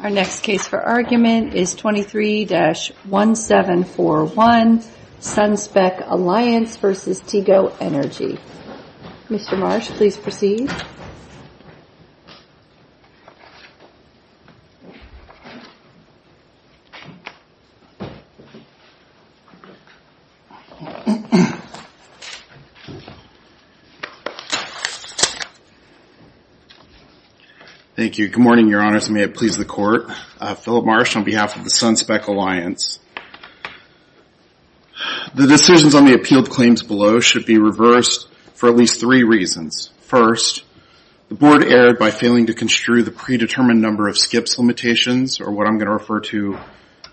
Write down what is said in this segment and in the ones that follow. Our next case for argument is 23-1741 SunSpec Alliance v. Tigo Energy. Mr. Marsh, please proceed. Thank you. Good morning, your honors. May it please the court, Philip Marsh on behalf of the SunSpec Alliance. The decisions on the appealed claims below should be reversed for at least three reasons. First, the board erred by failing to construe the predetermined number of skips limitations, or what I'm going to refer to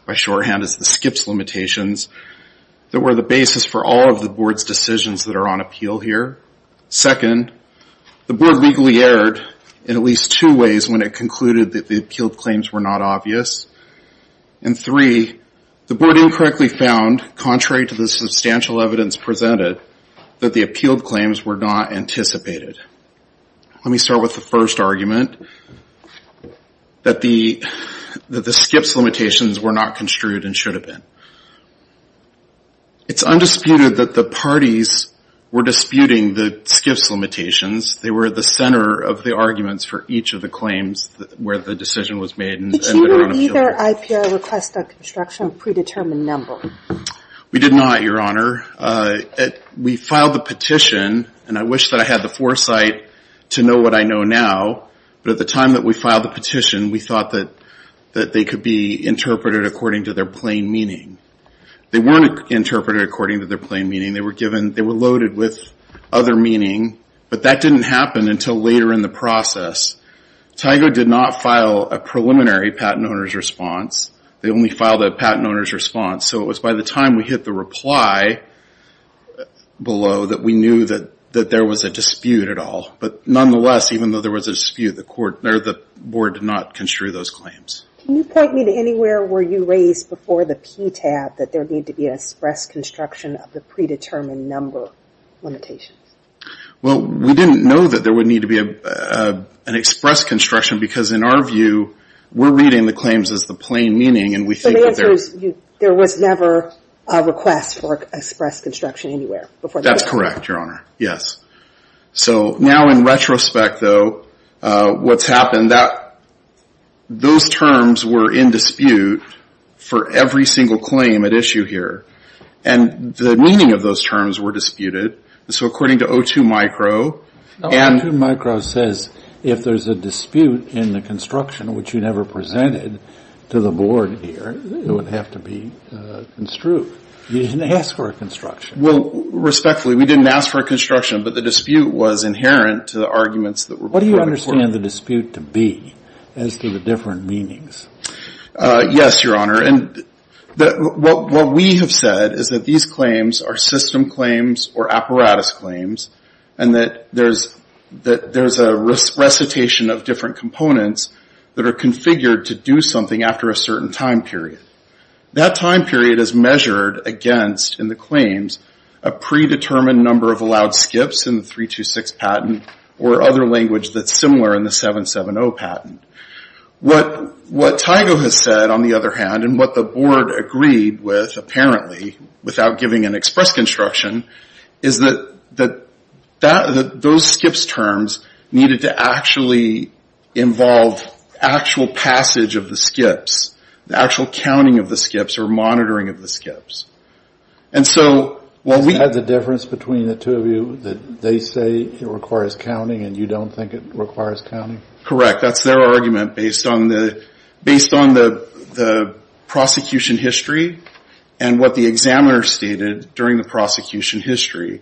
by shorthand as the skips limitations, that were the basis for all of the board's decisions that are on appeal here. Second, the board legally erred in at least two ways when it concluded that the appealed claims were not obvious. And three, the board incorrectly found, contrary to the substantial evidence presented, that the appealed claims were not anticipated. Let me start with the first argument, that the skips limitations were not construed and should have been. It's undisputed that the parties were disputing the skips limitations. They were at the center of the arguments for each of the claims where the decision was made. Did you hear either IPR request a construction of predetermined number? We did not, your honor. We filed the petition, and I wish that I had the foresight to know what I know now. But at the time that we filed the petition, we thought that they could be interpreted according to their plain meaning. They weren't interpreted according to their plain meaning. They were loaded with other meaning, but that didn't happen until later in the process. TIGO did not file a preliminary patent owner's response. They only filed a patent owner's response. So it was by the time we hit the reply below that we knew that there was a dispute at all. But nonetheless, even though there was a dispute, the board did not construe those claims. Can you point me to anywhere where you raised before the PTAB that there would need to be an express construction of the predetermined number limitations? Well, we didn't know that there would need to be an express construction because in our view, we're reading the claims as the plain meaning and we think that there's... So the answer is there was never a request for express construction anywhere before... That's correct, your honor. Yes. So now in retrospect, though, what's happened that those terms were in dispute for every single claim at issue here. And the meaning of those terms were disputed. So according to O2micro and... O2micro says if there's a dispute in the construction, which you never presented to the board here, it would have to be construed. You didn't ask for a construction. Well, respectfully, we didn't ask for a construction, but the dispute was inherent to the arguments that were... What do you understand the dispute to be as to the different meanings? Yes, your honor. And what we have said is that these claims are system claims or apparatus claims and that there's a recitation of different components that are configured to do something after a certain time period. That time period is measured against, in the claims, a predetermined number of allowed skips in the 326 patent or other language that's similar in the 770 patent. What Tygo has said, on the other hand, and what the board agreed with, apparently, without giving an express construction, is that those skips terms needed to actually involve actual passage of the skips, the actual counting of the skips or monitoring of the skips. And so... Is that the difference between the two of you, that they say it requires counting and you don't think it requires counting? Correct. That's their argument based on the prosecution history and what the examiner stated during the prosecution history.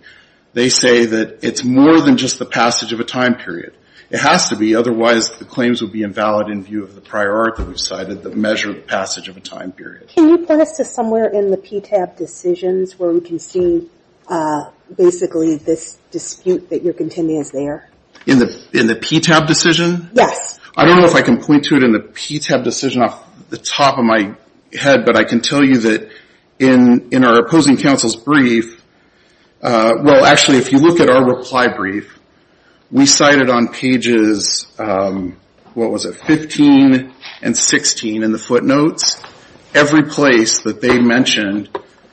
They say that it's more than just the passage of a time period. It has to be. Otherwise, the claims would be invalid in view of the prior art that we've cited that measure the passage of a time period. Can you point us to somewhere in the PTAB decisions where we can see, basically, this dispute that you're contending is there? In the PTAB decision? Yes. I don't know if I can point to it in the PTAB decision off the top of my head, but I can tell you that in our opposing counsel's brief, well, actually, if you look at our reply brief, we cited on pages, what was it, 15 and 16 in the footnotes, every place that they mentioned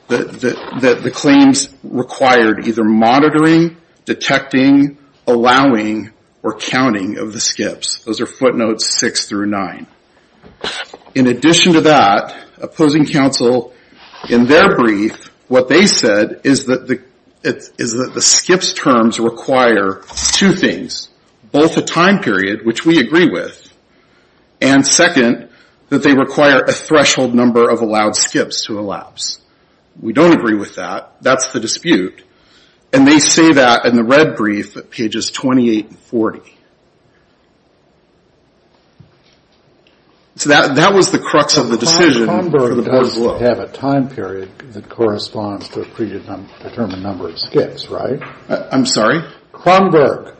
that the claims required either monitoring, detecting, allowing, or counting of the skips. Those are footnotes six through nine. In addition to that, opposing counsel, in their brief, what they said is that the skips terms require two things, both a time period, which we agree with, and second, that they require a threshold number of allowed skips to elapse. We don't agree with that. That's the dispute. And they say that in the red brief at pages 28 and 40. So that was the crux of the decision for the board as well. You have a time period that corresponds to a predetermined number of skips, right? I'm sorry? Cronberg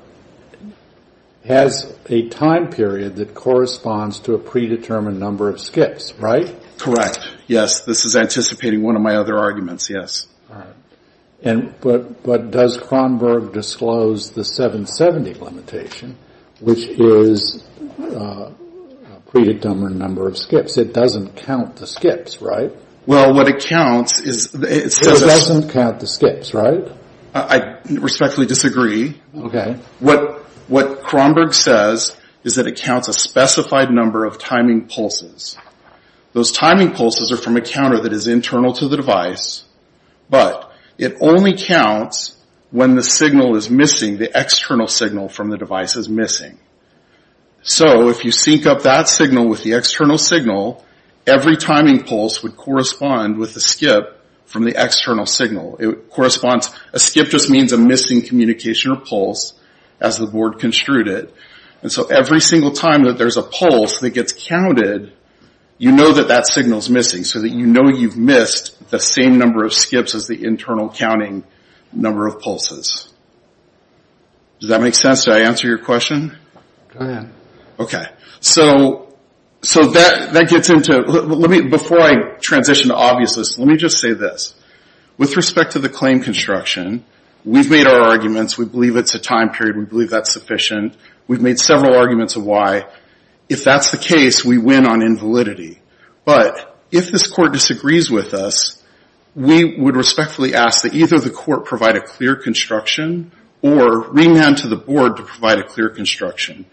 has a time period that corresponds to a predetermined number of skips, right? Correct. Yes. This is anticipating one of my other arguments. Yes. And but does Cronberg disclose the 770 limitation, which is a predetermined number of skips? It doesn't count the skips, right? Well, what it counts is it doesn't count the skips, right? I respectfully disagree. Okay. What what Cronberg says is that it counts a specified number of timing pulses. Those timing pulses are from a counter that is internal to the device. But it only counts when the signal is missing. The external signal from the device is missing. So if you sync up that signal with the external signal, every timing pulse would correspond with the skip from the external signal. It corresponds, a skip just means a missing communication or pulse as the board construed it. And so every single time that there's a pulse that gets counted, you know that that signal is missing so that you know you've missed the same number of skips as the internal counting number of pulses. Does that make sense? Did I answer your question? Go ahead. So, so that, that gets into, let me, before I transition to obviousness, let me just say this. With respect to the claim construction, we've made our arguments. We believe it's a time period. We believe that's sufficient. We've made several arguments of why, if that's the case, we win on invalidity. But if this court disagrees with us, we would respectfully ask that either the court provide a clear construction or ring down to the board to provide a clear construction.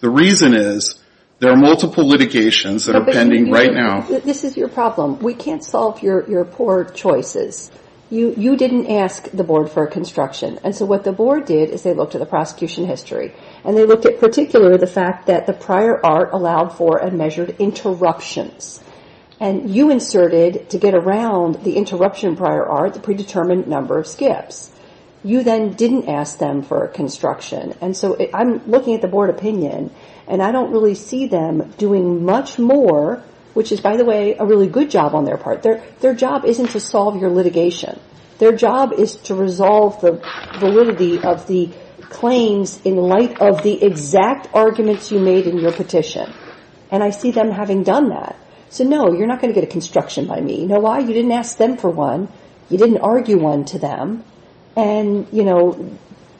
The reason is there are multiple litigations that are pending right now. This is your problem. We can't solve your, your poor choices. You, you didn't ask the board for a construction. And so what the board did is they looked at the prosecution history and they looked at particularly the fact that the prior art allowed for a measured interruptions. And you inserted to get around the interruption prior art, the predetermined number of skips. You then didn't ask them for a construction. And so I'm looking at the board opinion and I don't really see them doing much more, which is by the way, a really good job on their part. Their, their job isn't to solve your litigation. Their job is to resolve the validity of the claims in light of the exact arguments you made in your petition. And I see them having done that. So no, you're not going to get a construction by me. You know why? You didn't ask them for one. You didn't argue one to them. And you know,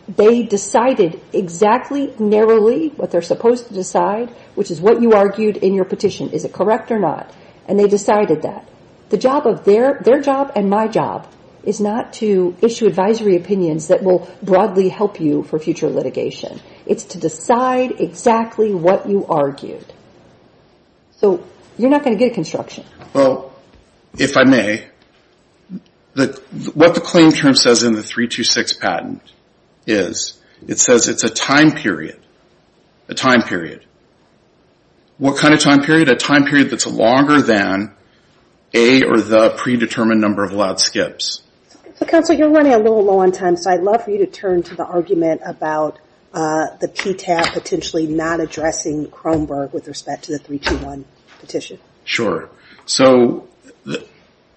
they decided exactly narrowly what they're supposed to decide, which is what you argued in your petition. Is it correct or not? And they decided that the job of their, their job and my job is not to issue advisory opinions that will broadly help you for future litigation. It's to decide exactly what you argued. So you're not going to get a construction. Well, if I may, the, what the claim term says in the 3-2-6 patent is, it says it's a time period, a time period. What kind of time period? A time period that's longer than a or the predetermined number of allowed skips. So counsel, you're running a little low on time. So I'd love for you to turn to the argument about the PTAB potentially not addressing Cromberg with respect to the 3-2-1 petition. Sure. So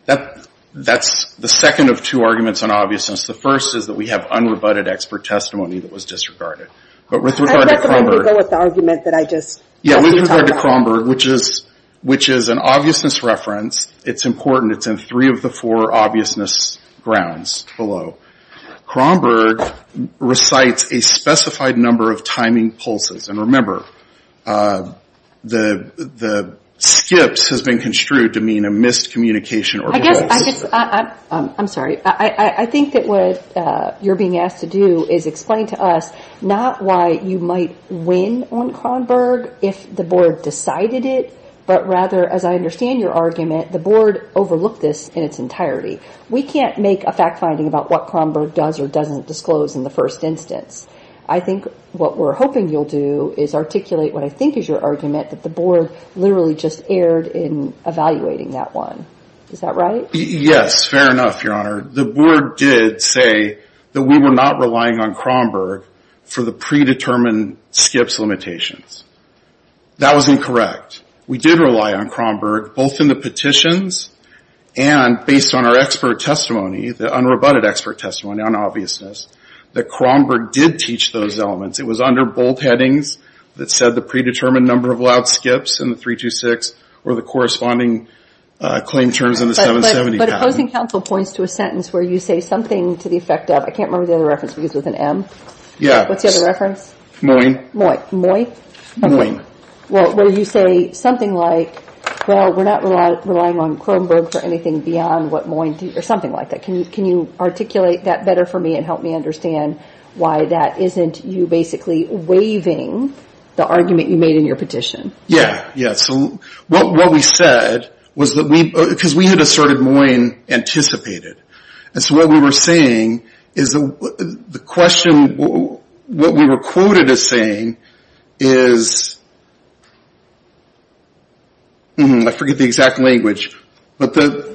that, that's the second of two arguments on obviousness. The first is that we have unrebutted expert testimony that was disregarded. But with regard to Cromberg, which is, which is an obviousness reference. It's important. It's in three of the four obviousness grounds below. Cromberg recites a specified number of timing pulses. And remember, the, the skips has been construed to mean a miscommunication. I guess, I guess, I'm sorry. I think that what you're being asked to do is explain to us not why you might win on Cromberg if the board decided it, but rather, as I understand your argument, the board overlooked this in its entirety. We can't make a fact finding about what Cromberg does or doesn't disclose in the first instance. I think what we're hoping you'll do is articulate what I think is your argument that the board literally just erred in evaluating that one. Is that right? Yes, fair enough, Your Honor. The board did say that we were not relying on Cromberg for the predetermined skips limitations. That was incorrect. We did rely on Cromberg, both in the petitions and based on our expert testimony, the unrebutted expert testimony on obviousness, that Cromberg did teach those elements. It was under bold headings that said the predetermined number of loud skips in the 326 or the corresponding claim terms in the 770. But opposing counsel points to a sentence where you say something to the effect of, I can't remember the other reference, because it was an M. Yeah. What's the other reference? Moyne. Moyne. Moyne? Moyne. Well, where you say something like, well, we're not relying on Cromberg for anything beyond what Moyne, or something like that. Can you articulate that better for me and help me understand why that isn't you basically waiving the argument you made in your petition? Yeah. So what we said was that we, because we had asserted Moyne anticipated. And so what we were saying is the question, what we were quoted as saying is, I forget the exact language, but the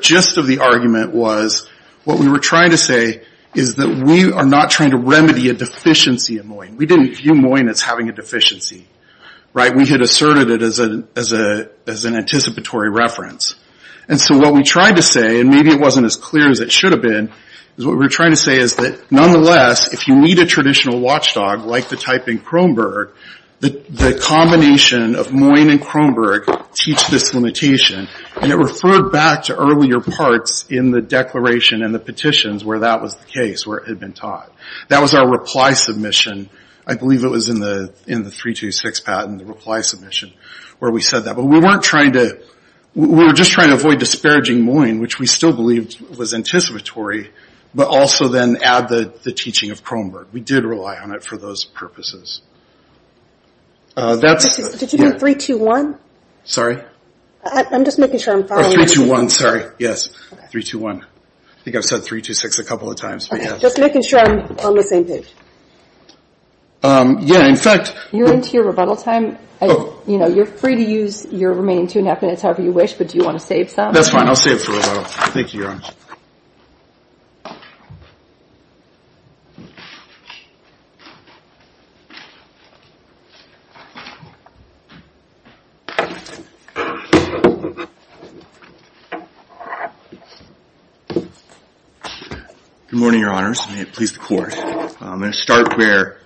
gist of the argument was what we were trying to say is that we are not trying to remedy a deficiency in Moyne. We didn't view Moyne as having a deficiency, right? We had asserted it as an anticipatory reference. And so what we tried to say, and maybe it wasn't as clear as it should have been, is what we were trying to say is that nonetheless, if you need a traditional watchdog like the type in Cromberg, the combination of Moyne and Cromberg teach this limitation. And it referred back to earlier parts in the declaration and the petitions where that was the case, where it had been taught. That was our reply submission. I believe it was in the 326 patent, the reply submission, where we said that. But we weren't trying to, we were just trying to avoid disparaging Moyne, which we still believed was anticipatory, but also then add the teaching of Cromberg. We did rely on it for those purposes. That's. Did you do 321? Sorry? I'm just making sure I'm following. 321, sorry, yes. 321. I think I've said 326 a couple of times. Just making sure I'm on the same page. Yeah, in fact. You're into your rebuttal time. You know, you're free to use your remaining two and a half minutes however you wish, but do you want to save some? That's fine. I'll save for rebuttal. Thank you, Erin. Good morning, Your Honors, and may it please the Court. I'm going to start where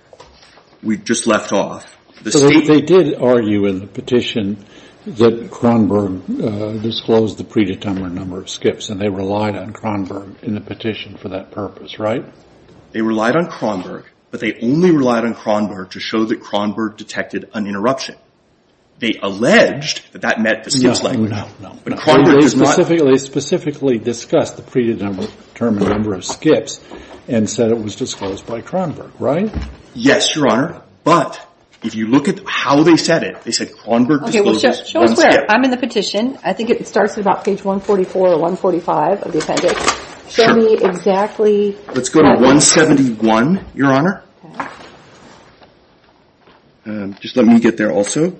we just left off. They did argue in the petition that Cronberg disclosed the predetermined number of skips, and they relied on Cronberg in the petition for that purpose, right? They relied on Cronberg, but they only relied on Cronberg to show that Cronberg detected an interruption. They alleged that that meant the skid flag. No, no, no, no. They specifically discussed the predetermined number of skips and said it was disclosed by Cronberg, right? Yes, Your Honor, but if you look at how they said it, they said Cronberg disclosed one skip. I'm in the petition. I think it starts at about page 144 or 145 of the appendix. Show me exactly. Let's go to 171, Your Honor. Just let me get there also,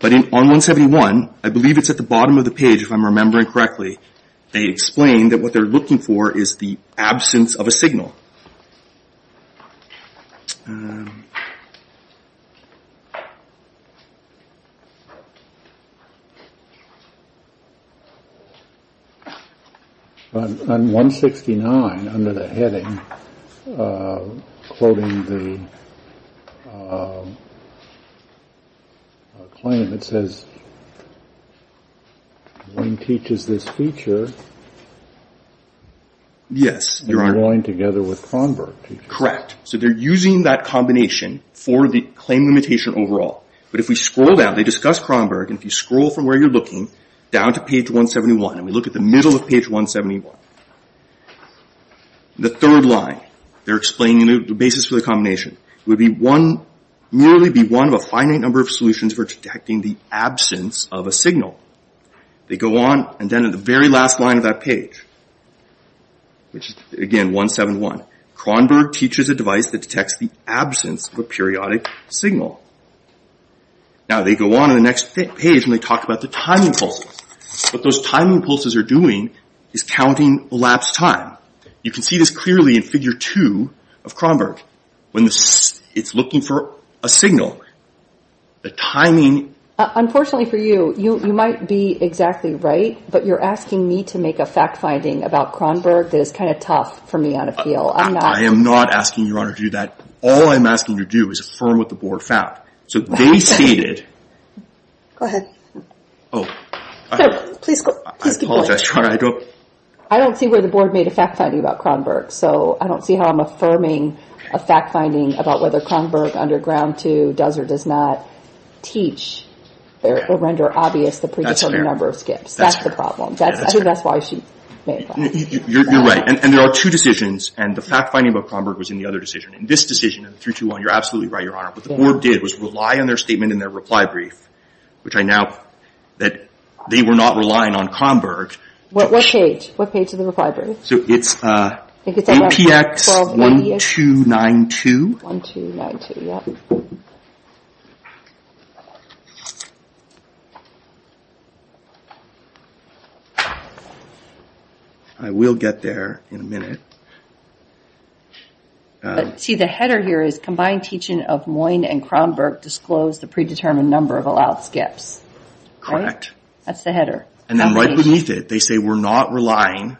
but on 171, I believe it's at the bottom of the page, if I'm remembering correctly, they explained that what they're looking for is the absence of a signal. On 169, under the heading, quoting the claim, it says Wayne teaches this feature. Yes, Your Honor. And they're going together with Cronberg. Correct. So they're using that combination for the claim limitation overall, but if we scroll down, they discuss Cronberg, and if you scroll from where you're looking down to page 171, and we look at the middle of page 171, the third line, they're explaining the basis for the combination. It would be one, merely be one of a finite number of solutions for detecting the absence of a signal. They go on, and then at the very last line of that page, which again, 171, Cronberg teaches a device that detects the absence of a periodic signal. Now, they go on to the next page, and they talk about the timing pulses. What those timing pulses are doing is counting elapsed time. You can see this clearly in figure two of Cronberg. When it's looking for a signal, the timing... Unfortunately for you, you might be exactly right, but you're asking me to make a fact finding about Cronberg that is kind of tough for me on a field. I am not asking Your Honor to do that. All I'm asking you to do is affirm what the board found. So they stated... Go ahead. Oh, I apologize, Your Honor, I don't... I don't see where the board made a fact finding about Cronberg. So I don't see how I'm affirming a fact finding about whether Cronberg underground two does or does not teach or render obvious the predetermined number of skips. That's the problem. I think that's why she made that. You're right, and there are two decisions, and the fact finding about Cronberg was in the other decision. In this decision, in 321, you're absolutely right, Your Honor. What the board did was rely on their statement in their reply brief, which I now... That they were not relying on Cronberg. What page? What page of the reply brief? So it's APX 1292. 1292, yeah. I will get there in a minute. But see, the header here is combined teaching of Moyne and Cronberg disclose the predetermined number of allowed skips, right? That's the header. And then right beneath it, they say we're not relying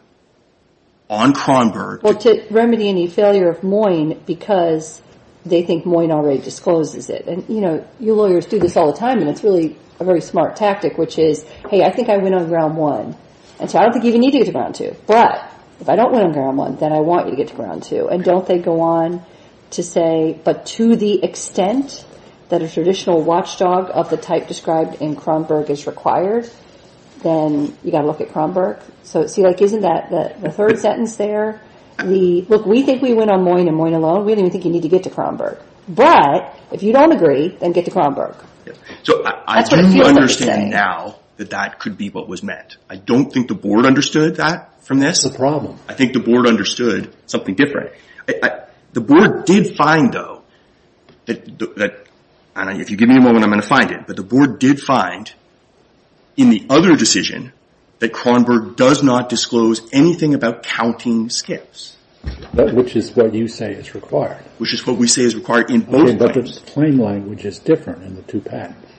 on Cronberg. Or to remedy any failure of Moyne because they think Moyne already discloses it. And, you know, you lawyers do this all the time, and it's really a very smart tactic, which is, hey, I think I win on round one. And so I don't think you even need to get to round two. But if I don't win on round one, then I want you to get to round two. And don't they go on to say, but to the extent that a traditional watchdog of the type described in Cronberg is required, then you got to look at Cronberg. So see, like, isn't that the third sentence there? Look, we think we win on Moyne and Moyne alone. We don't even think you need to get to Cronberg. But if you don't agree, then get to Cronberg. So I do understand now that that could be what was meant. I don't think the board understood that from this. I think the board understood something different. The board did find, though, that, and if you give me a moment, I'm going to find it. But the board did find in the other decision that Cronberg does not disclose anything about counting skips. But which is what you say is required. Which is what we say is required in both claims. But the claim language is different in the two patents.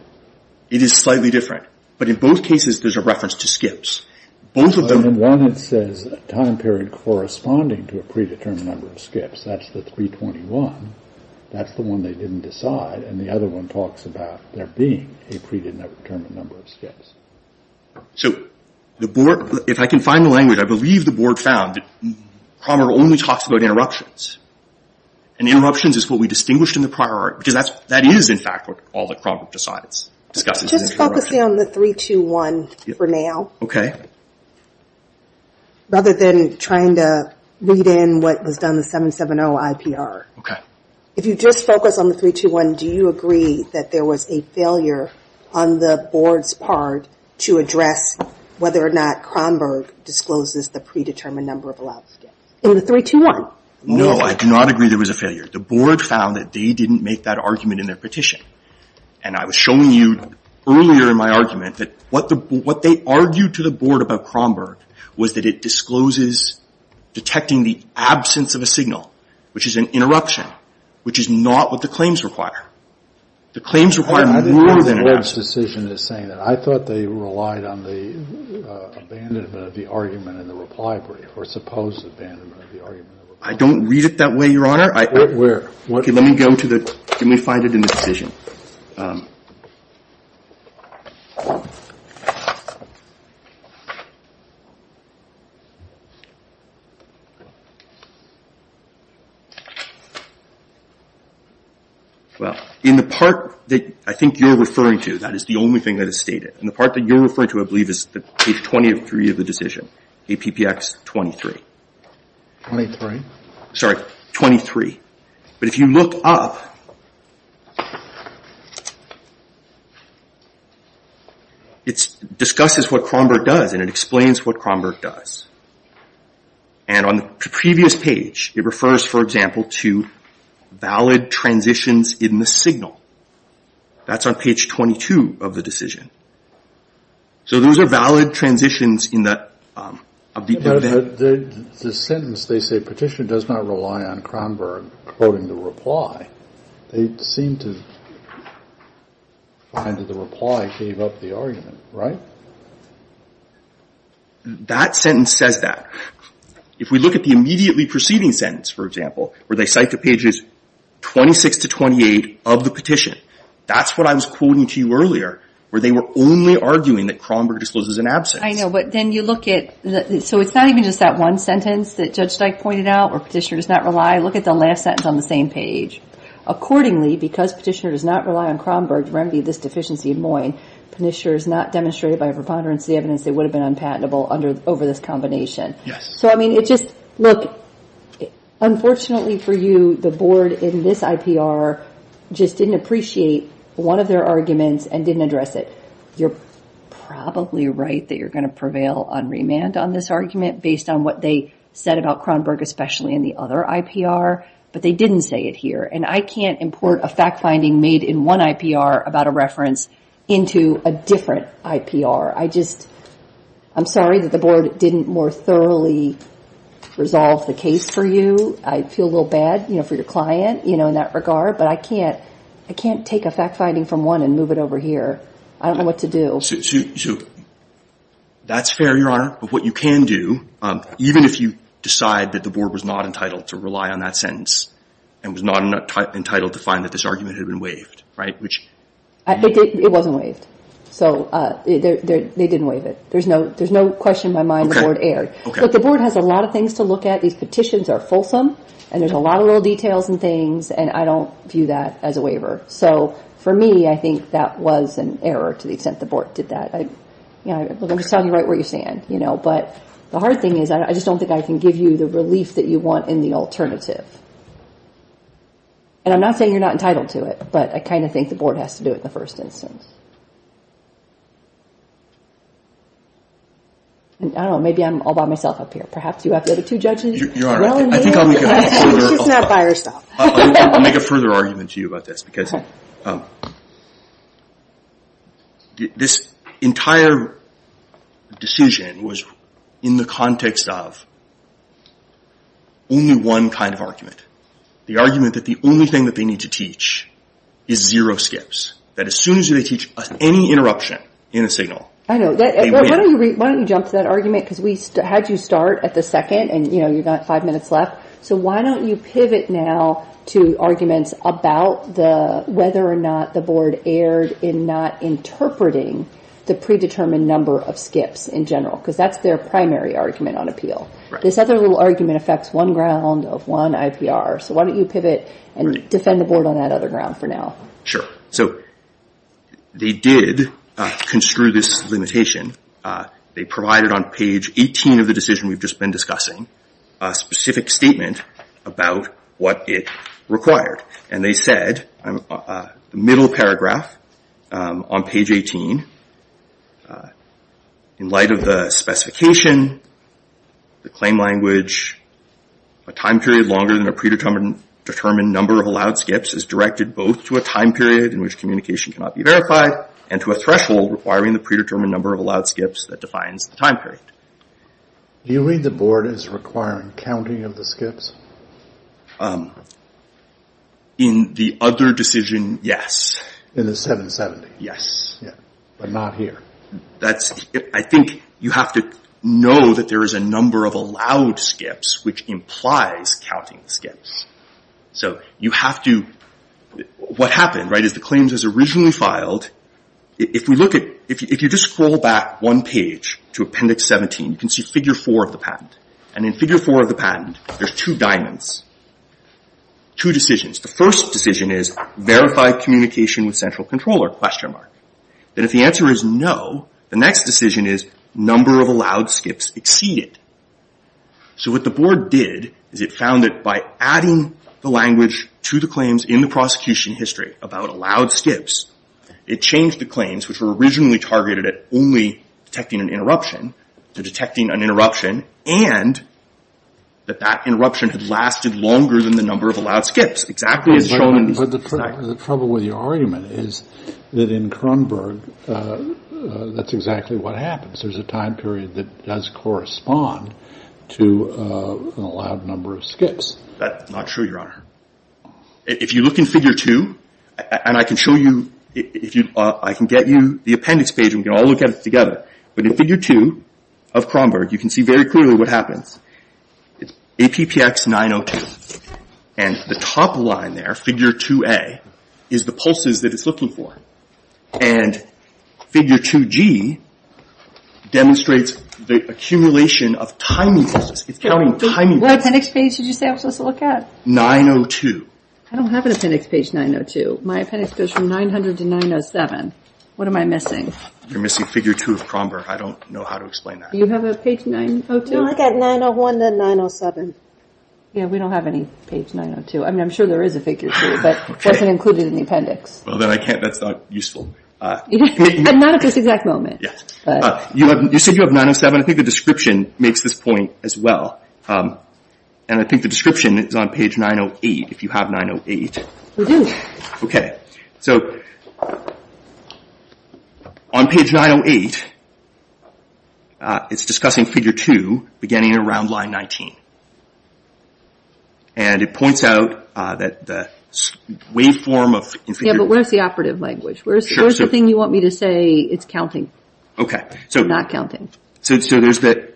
It is slightly different. But in both cases, there's a reference to skips. But in one, it says a time period corresponding to a predetermined number of skips. That's the 321. That's the one they didn't decide. And the other one talks about there being a predetermined number of skips. So the board, if I can find the language, I believe the board found that Cronberg only talks about interruptions. And interruptions is what we distinguished in the prior art. Because that is, in fact, what all that Cronberg decides. Just focusing on the 321 for now. Rather than trying to read in what was done in the 770 IPR. OK. If you just focus on the 321, do you agree that there was a failure on the board's part to address whether or not Cronberg discloses the predetermined number of allowed skips? In the 321? No, I do not agree there was a failure. The board found that they didn't make that argument in their petition. And I was showing you earlier in my argument that what they argued to the board about Cronberg was that it discloses detecting the absence of a signal, which is an interruption, which is not what the claims require. The claims require more than an absence. The board's decision is saying that. I thought they relied on the abandonment of the argument in the reply brief, or supposed abandonment of the argument in the reply brief. I don't read it that way, Your Honor. Where? OK, let me go to the, let me find it in the decision. Well, in the part that I think you're referring to, that is the only thing that is stated. And the part that you're referring to, I believe, is page 23 of the decision. APPX 23. 23? Sorry, 23. But if you look up, it discusses what Cronberg does, and it explains what Cronberg does. And on the previous page, it refers, for example, to valid transitions in the signal. That's on page 22 of the decision. So those are valid transitions in that, of the— The sentence, they say, petition does not rely on Cronberg quoting the reply. They seem to find that the reply gave up the argument, right? That sentence says that. If we look at the immediately preceding sentence, for example, where they cite the pages 26 to 28 of the petition, that's what I was quoting to you earlier, where they were only arguing that Cronberg discloses an absence. I know, but then you look at— So it's not even just that one sentence that Judge Steich pointed out, or petitioner does not rely. Look at the last sentence on the same page. Accordingly, because petitioner does not rely on Cronberg to remedy this deficiency in Moyne, petitioner is not demonstrated by a preponderance of the evidence that it would have been unpatentable over this combination. So, I mean, it just— Look, unfortunately for you, the board in this IPR just didn't appreciate one of their arguments and didn't address it. You're probably right that you're going to prevail on remand on this argument based on what they said about Cronberg, especially in the other IPR, but they didn't say it here. And I can't import a fact-finding made in one IPR about a reference into a different IPR. I'm sorry that the board didn't more thoroughly resolve the case for you. I feel a little bad for your client in that regard, but I can't take a fact-finding from one and move it over here. I don't know what to do. That's fair, Your Honor, but what you can do, even if you decide that the board was not entitled to rely on that sentence and was not entitled to find that this argument had been waived, right, which— It wasn't waived. So, they didn't waive it. There's no question in my mind the board erred. But the board has a lot of things to look at. These petitions are fulsome, and there's a lot of little details and things, and I don't view that as a waiver. So, for me, I think that was an error to the extent the board did that. I'm just telling you right where you stand, you know, but the hard thing is I just don't think I can give you the relief that you want in the alternative. And I'm not saying you're not entitled to it, but I kind of think the board has to do it in the first instance. And I don't know. Maybe I'm all by myself up here. Perhaps you have the other two judges. You're all right. I think I'll make a further— She's not by herself. I'll make a further argument to you about this, because this entire decision was in the context of only one kind of argument. The argument that the only thing that they need to teach is zero skips. That as soon as they teach any interruption in a signal— I know. Why don't you jump to that argument? Because we had you start at the second, and, you know, you've got five minutes left. So why don't you pivot now to arguments about whether or not the board erred in not interpreting the predetermined number of skips in general? Because that's their primary argument on appeal. This other little argument affects one ground of one IPR. So why don't you pivot and defend the board on that other ground for now? Sure. So they did construe this limitation. They provided on page 18 of the decision we've just been discussing a specific statement about what it required. And they said, the middle paragraph on page 18, in light of the specification, the claim language, a time period longer than a predetermined number of allowed skips is directed both to a time period in which communication cannot be verified and to a threshold requiring the predetermined number of allowed skips that defines the time period. Do you read the board as requiring counting of the skips? In the other decision, yes. In the 770? Yes. But not here? I think you have to know that there is a number of allowed skips, which implies counting skips. So you have to... What happened, right, is the claims as originally filed, if you just scroll back one page to appendix 17, you can see figure four of the patent. And in figure four of the patent, there's two diamonds, two decisions. The first decision is verify communication with central controller, question mark. Then if the answer is no, the next decision is number of allowed skips exceeded. So what the board did is it found that by adding the language to the claims in the prosecution history about allowed skips, it changed the claims which were originally targeted at only detecting an interruption, to detecting an interruption, and that that interruption had lasted longer than the number of allowed skips. Exactly as shown in... But the trouble with your argument is that in Crunberg, that's exactly what happens. There's a time period that does correspond to an allowed number of skips. That's not true, Your Honor. If you look in figure two, and I can show you... I can get you the appendix page and we can all look at it together. But in figure two of Crunberg, you can see very clearly what happens. It's APPX 902. And the top line there, figure 2A, is the pulses that it's looking for. And figure 2G demonstrates the accumulation of timing pulses. It's counting timing pulses. What appendix page did you say I was supposed to look at? 902. I don't have an appendix page 902. My appendix goes from 900 to 907. What am I missing? You're missing figure two of Crunberg. I don't know how to explain that. Do you have a page 902? No, I've got 901 to 907. Yeah, we don't have any page 902. I mean, I'm sure there is a figure two, but it wasn't included in the appendix. Well, then I can't... That's not useful. Not at this exact moment. You said you have 907. I think the description makes this point as well. And I think the description is on page 908, if you have 908. We do. Okay, so on page 908, it's discussing figure two beginning around line 19. And it points out that the waveform of... Yeah, but where's the operative language? Where's the thing you want me to say it's counting? Okay, so... Not counting. So there's the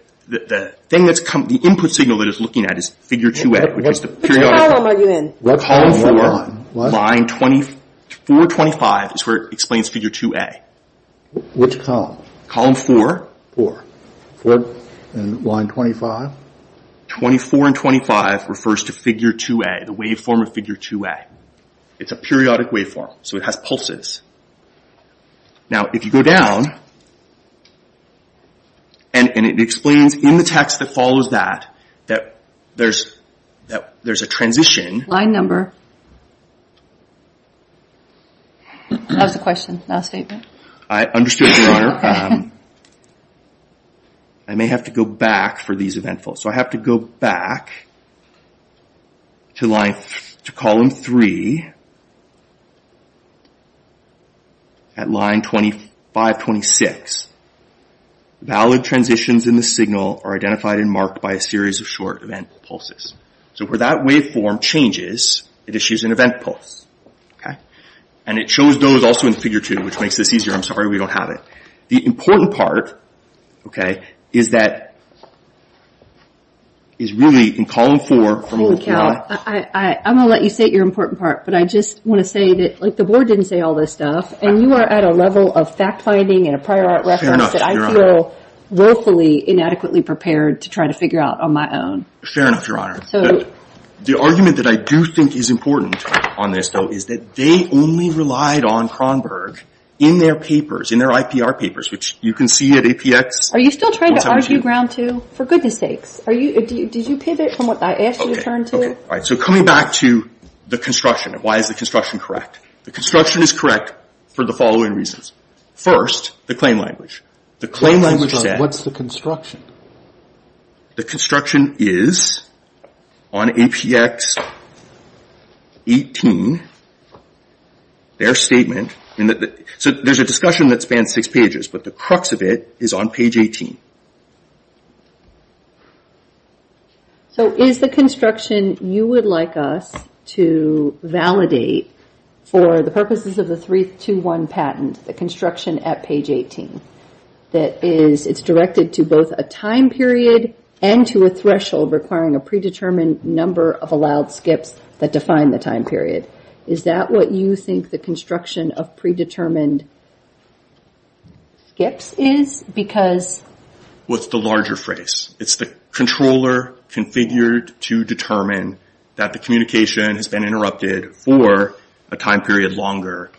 thing that's coming... The input signal that it's looking at is figure 2A, which is the periodic... Which column are you in? Column four, line 2425 is where it explains figure 2A. Which column? Column four. And line 25? 24 and 25 refers to figure 2A, the waveform of figure 2A. It's a periodic waveform, so it has pulses. Now, if you go down, and it explains in the text that follows that, that there's a transition... Line number. That was the question, not a statement. I understood earlier. I may have to go back for these eventful. So I have to go back to line... To column three at line 2526. Valid transitions in the signal are identified and marked by a series of short event pulses. So where that waveform changes, it issues an event pulse. And it shows those also in figure two, which makes this easier. I'm sorry, we don't have it. The important part, okay, is that... Is really in column four... I'm going to let you say your important part. But I just want to say that the board didn't say all this stuff. And you are at a level of fact finding and a prior art reference that I feel willfully inadequately prepared to try to figure out on my own. Fair enough, Your Honor. The argument that I do think is important on this though, is that they only relied on Kronberg in their papers, in their IPR papers, which you can see at APX... Are you still trying to argue ground two? For goodness sakes. Did you pivot from what I asked you to turn to? All right, so coming back to the construction, why is the construction correct? The construction is correct for the following reasons. First, the claim language. The claim language... What's the construction? The construction is on APX 18, their statement... So there's a discussion that spans six pages, but the crux of it is on page 18. So is the construction you would like us to validate for the purposes of the 321 patent, the construction at page 18? It's directed to both a time period and to a threshold requiring a predetermined number of allowed skips that define the time period. Is that what you think the construction of predetermined skips is? Because... What's the larger phrase? It's the controller configured to determine that the communication has been interrupted for a time period longer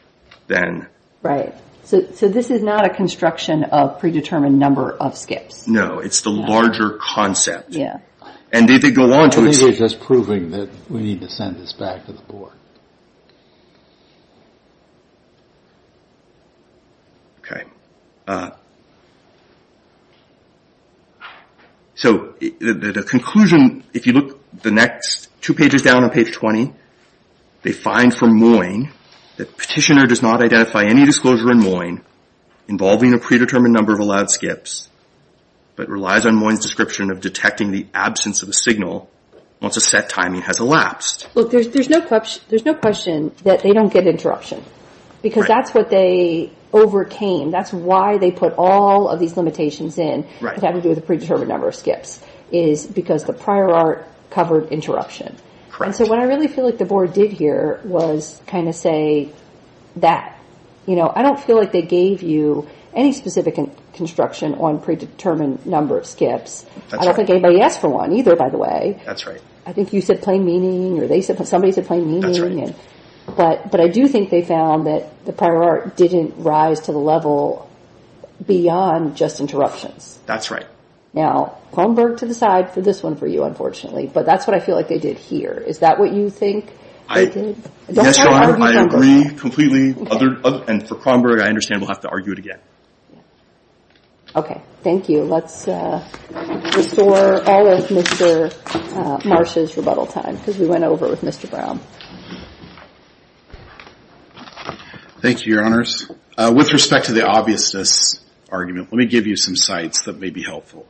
than... Right, so this is not a construction of predetermined number of skips. No, it's the larger concept. And they go on to... I think they're just proving that we need to send this back to the board. Okay. So the conclusion, if you look the next two pages down on page 20, they find from Moyne that petitioner does not identify any disclosure in Moyne involving a predetermined number of allowed skips, but relies on Moyne's description of detecting the absence of the signal once a set timing has elapsed. Look, there's no question that they don't get interruption because that's what they overcame. That's why they put all of these limitations in that have to do with a predetermined number of skips is because the prior art covered interruption. Correct. So what I really feel like the board did here was kind of say that. I don't feel like they gave you any specific construction on predetermined number of skips. I don't think anybody asked for one either, by the way. That's right. I think you said plain meaning or somebody said plain meaning. But I do think they found that the prior art didn't rise to the level beyond just interruptions. That's right. Now, Holmberg to the side for this one for you, unfortunately, but that's what I feel like they did here is that what you think they did? Yes, Your Honor, I agree completely. And for Kronberg, I understand we'll have to argue it again. Okay. Thank you. Let's restore all of Mr. Marsh's rebuttal time because we went over with Mr. Brown. Thank you, Your Honors. With respect to the obviousness argument, let me give you some sites that may be helpful.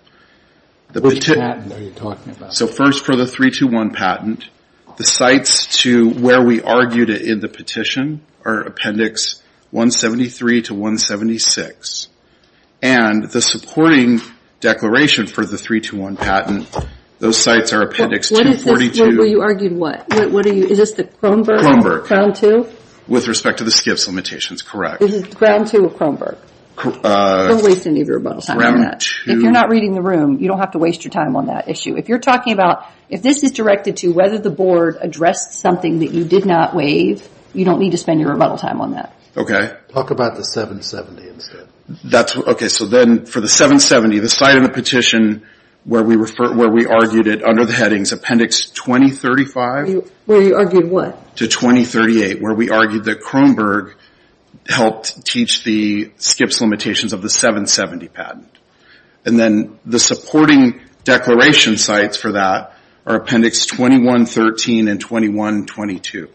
What patent are you talking about? So first for the 321 patent, the sites to where we argued it in the petition are Appendix 173 to 176. And the supporting declaration for the 321 patent, those sites are Appendix 242. Where you argued what? Is this the Kronberg? Kronberg. Ground two? With respect to the skips limitations, correct. Is it ground two or Kronberg? We'll waste any of your rebuttal time on that. If you're not reading the room, you don't have to waste your time on that issue. If you're talking about, if this is directed to whether the board addressed something that you did not waive, you don't need to spend your rebuttal time on that. Talk about the 770 instead. Okay. So then for the 770, the site in the petition where we argued it under the headings Appendix 2035. Where you argued what? To 2038, where we argued that Kronberg helped teach the skips limitations of the 770 patent. And then the supporting declaration sites for that are Appendix 2113 and 2122.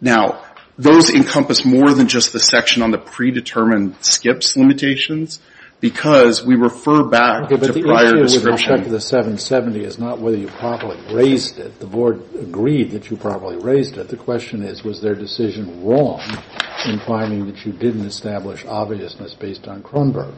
Now, those encompass more than just the section on the predetermined skips limitations. Because we refer back to prior description. Okay, but the issue with respect to the 770 is not whether you properly raised it. The board agreed that you properly raised it. The question is, was their decision wrong in finding that you didn't establish obviousness based on Kronberg?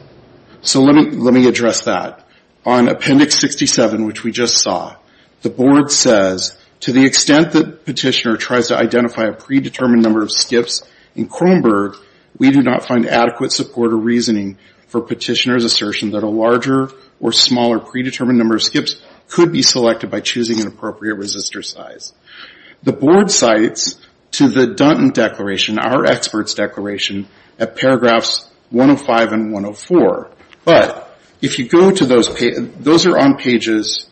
So let me address that. On Appendix 67, which we just saw, the board says, to the extent that petitioner tries to identify a predetermined number of skips in Kronberg, we do not find adequate support or reasoning for petitioner's assertion that a larger or smaller predetermined number of skips could be selected by choosing an appropriate resistor size. The board cites to the Dunton Declaration, our expert's declaration, at paragraphs 105 and 104. But if you go to those, those are on pages,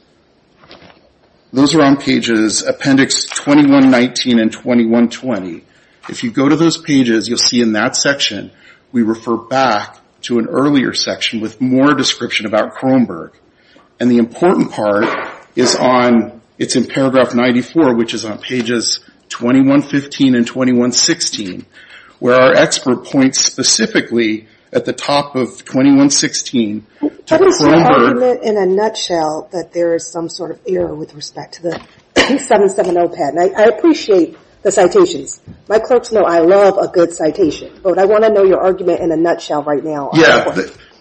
those are on pages Appendix 2119 and 2120. If you go to those pages, you'll see in that section, we refer back to an earlier section with more description about Kronberg. And the important part is on, it's in paragraph 94, which is on pages 2115 and 2116, where our expert points specifically at the top of 2116 to Kronberg. What is your argument in a nutshell that there is some sort of error with respect to the 2770 patent? I appreciate the citations. My clerks know I love a good citation. But I want to know your argument in a nutshell right now. Yeah,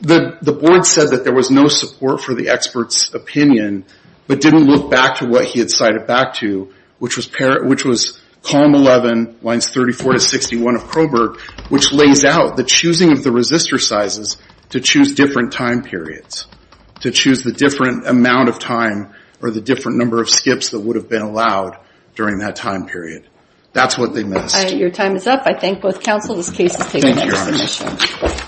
the board said that there was no support for the expert's opinion, but didn't look back to what he had cited back to, which was column 11, lines 34 to 61 of Kronberg, which lays out the choosing of the resistor sizes to choose different time periods, to choose the different amount of time or the different number of skips that would have been allowed during that time period. That's what they missed. Your time is up. I thank both counsel. This case is taken.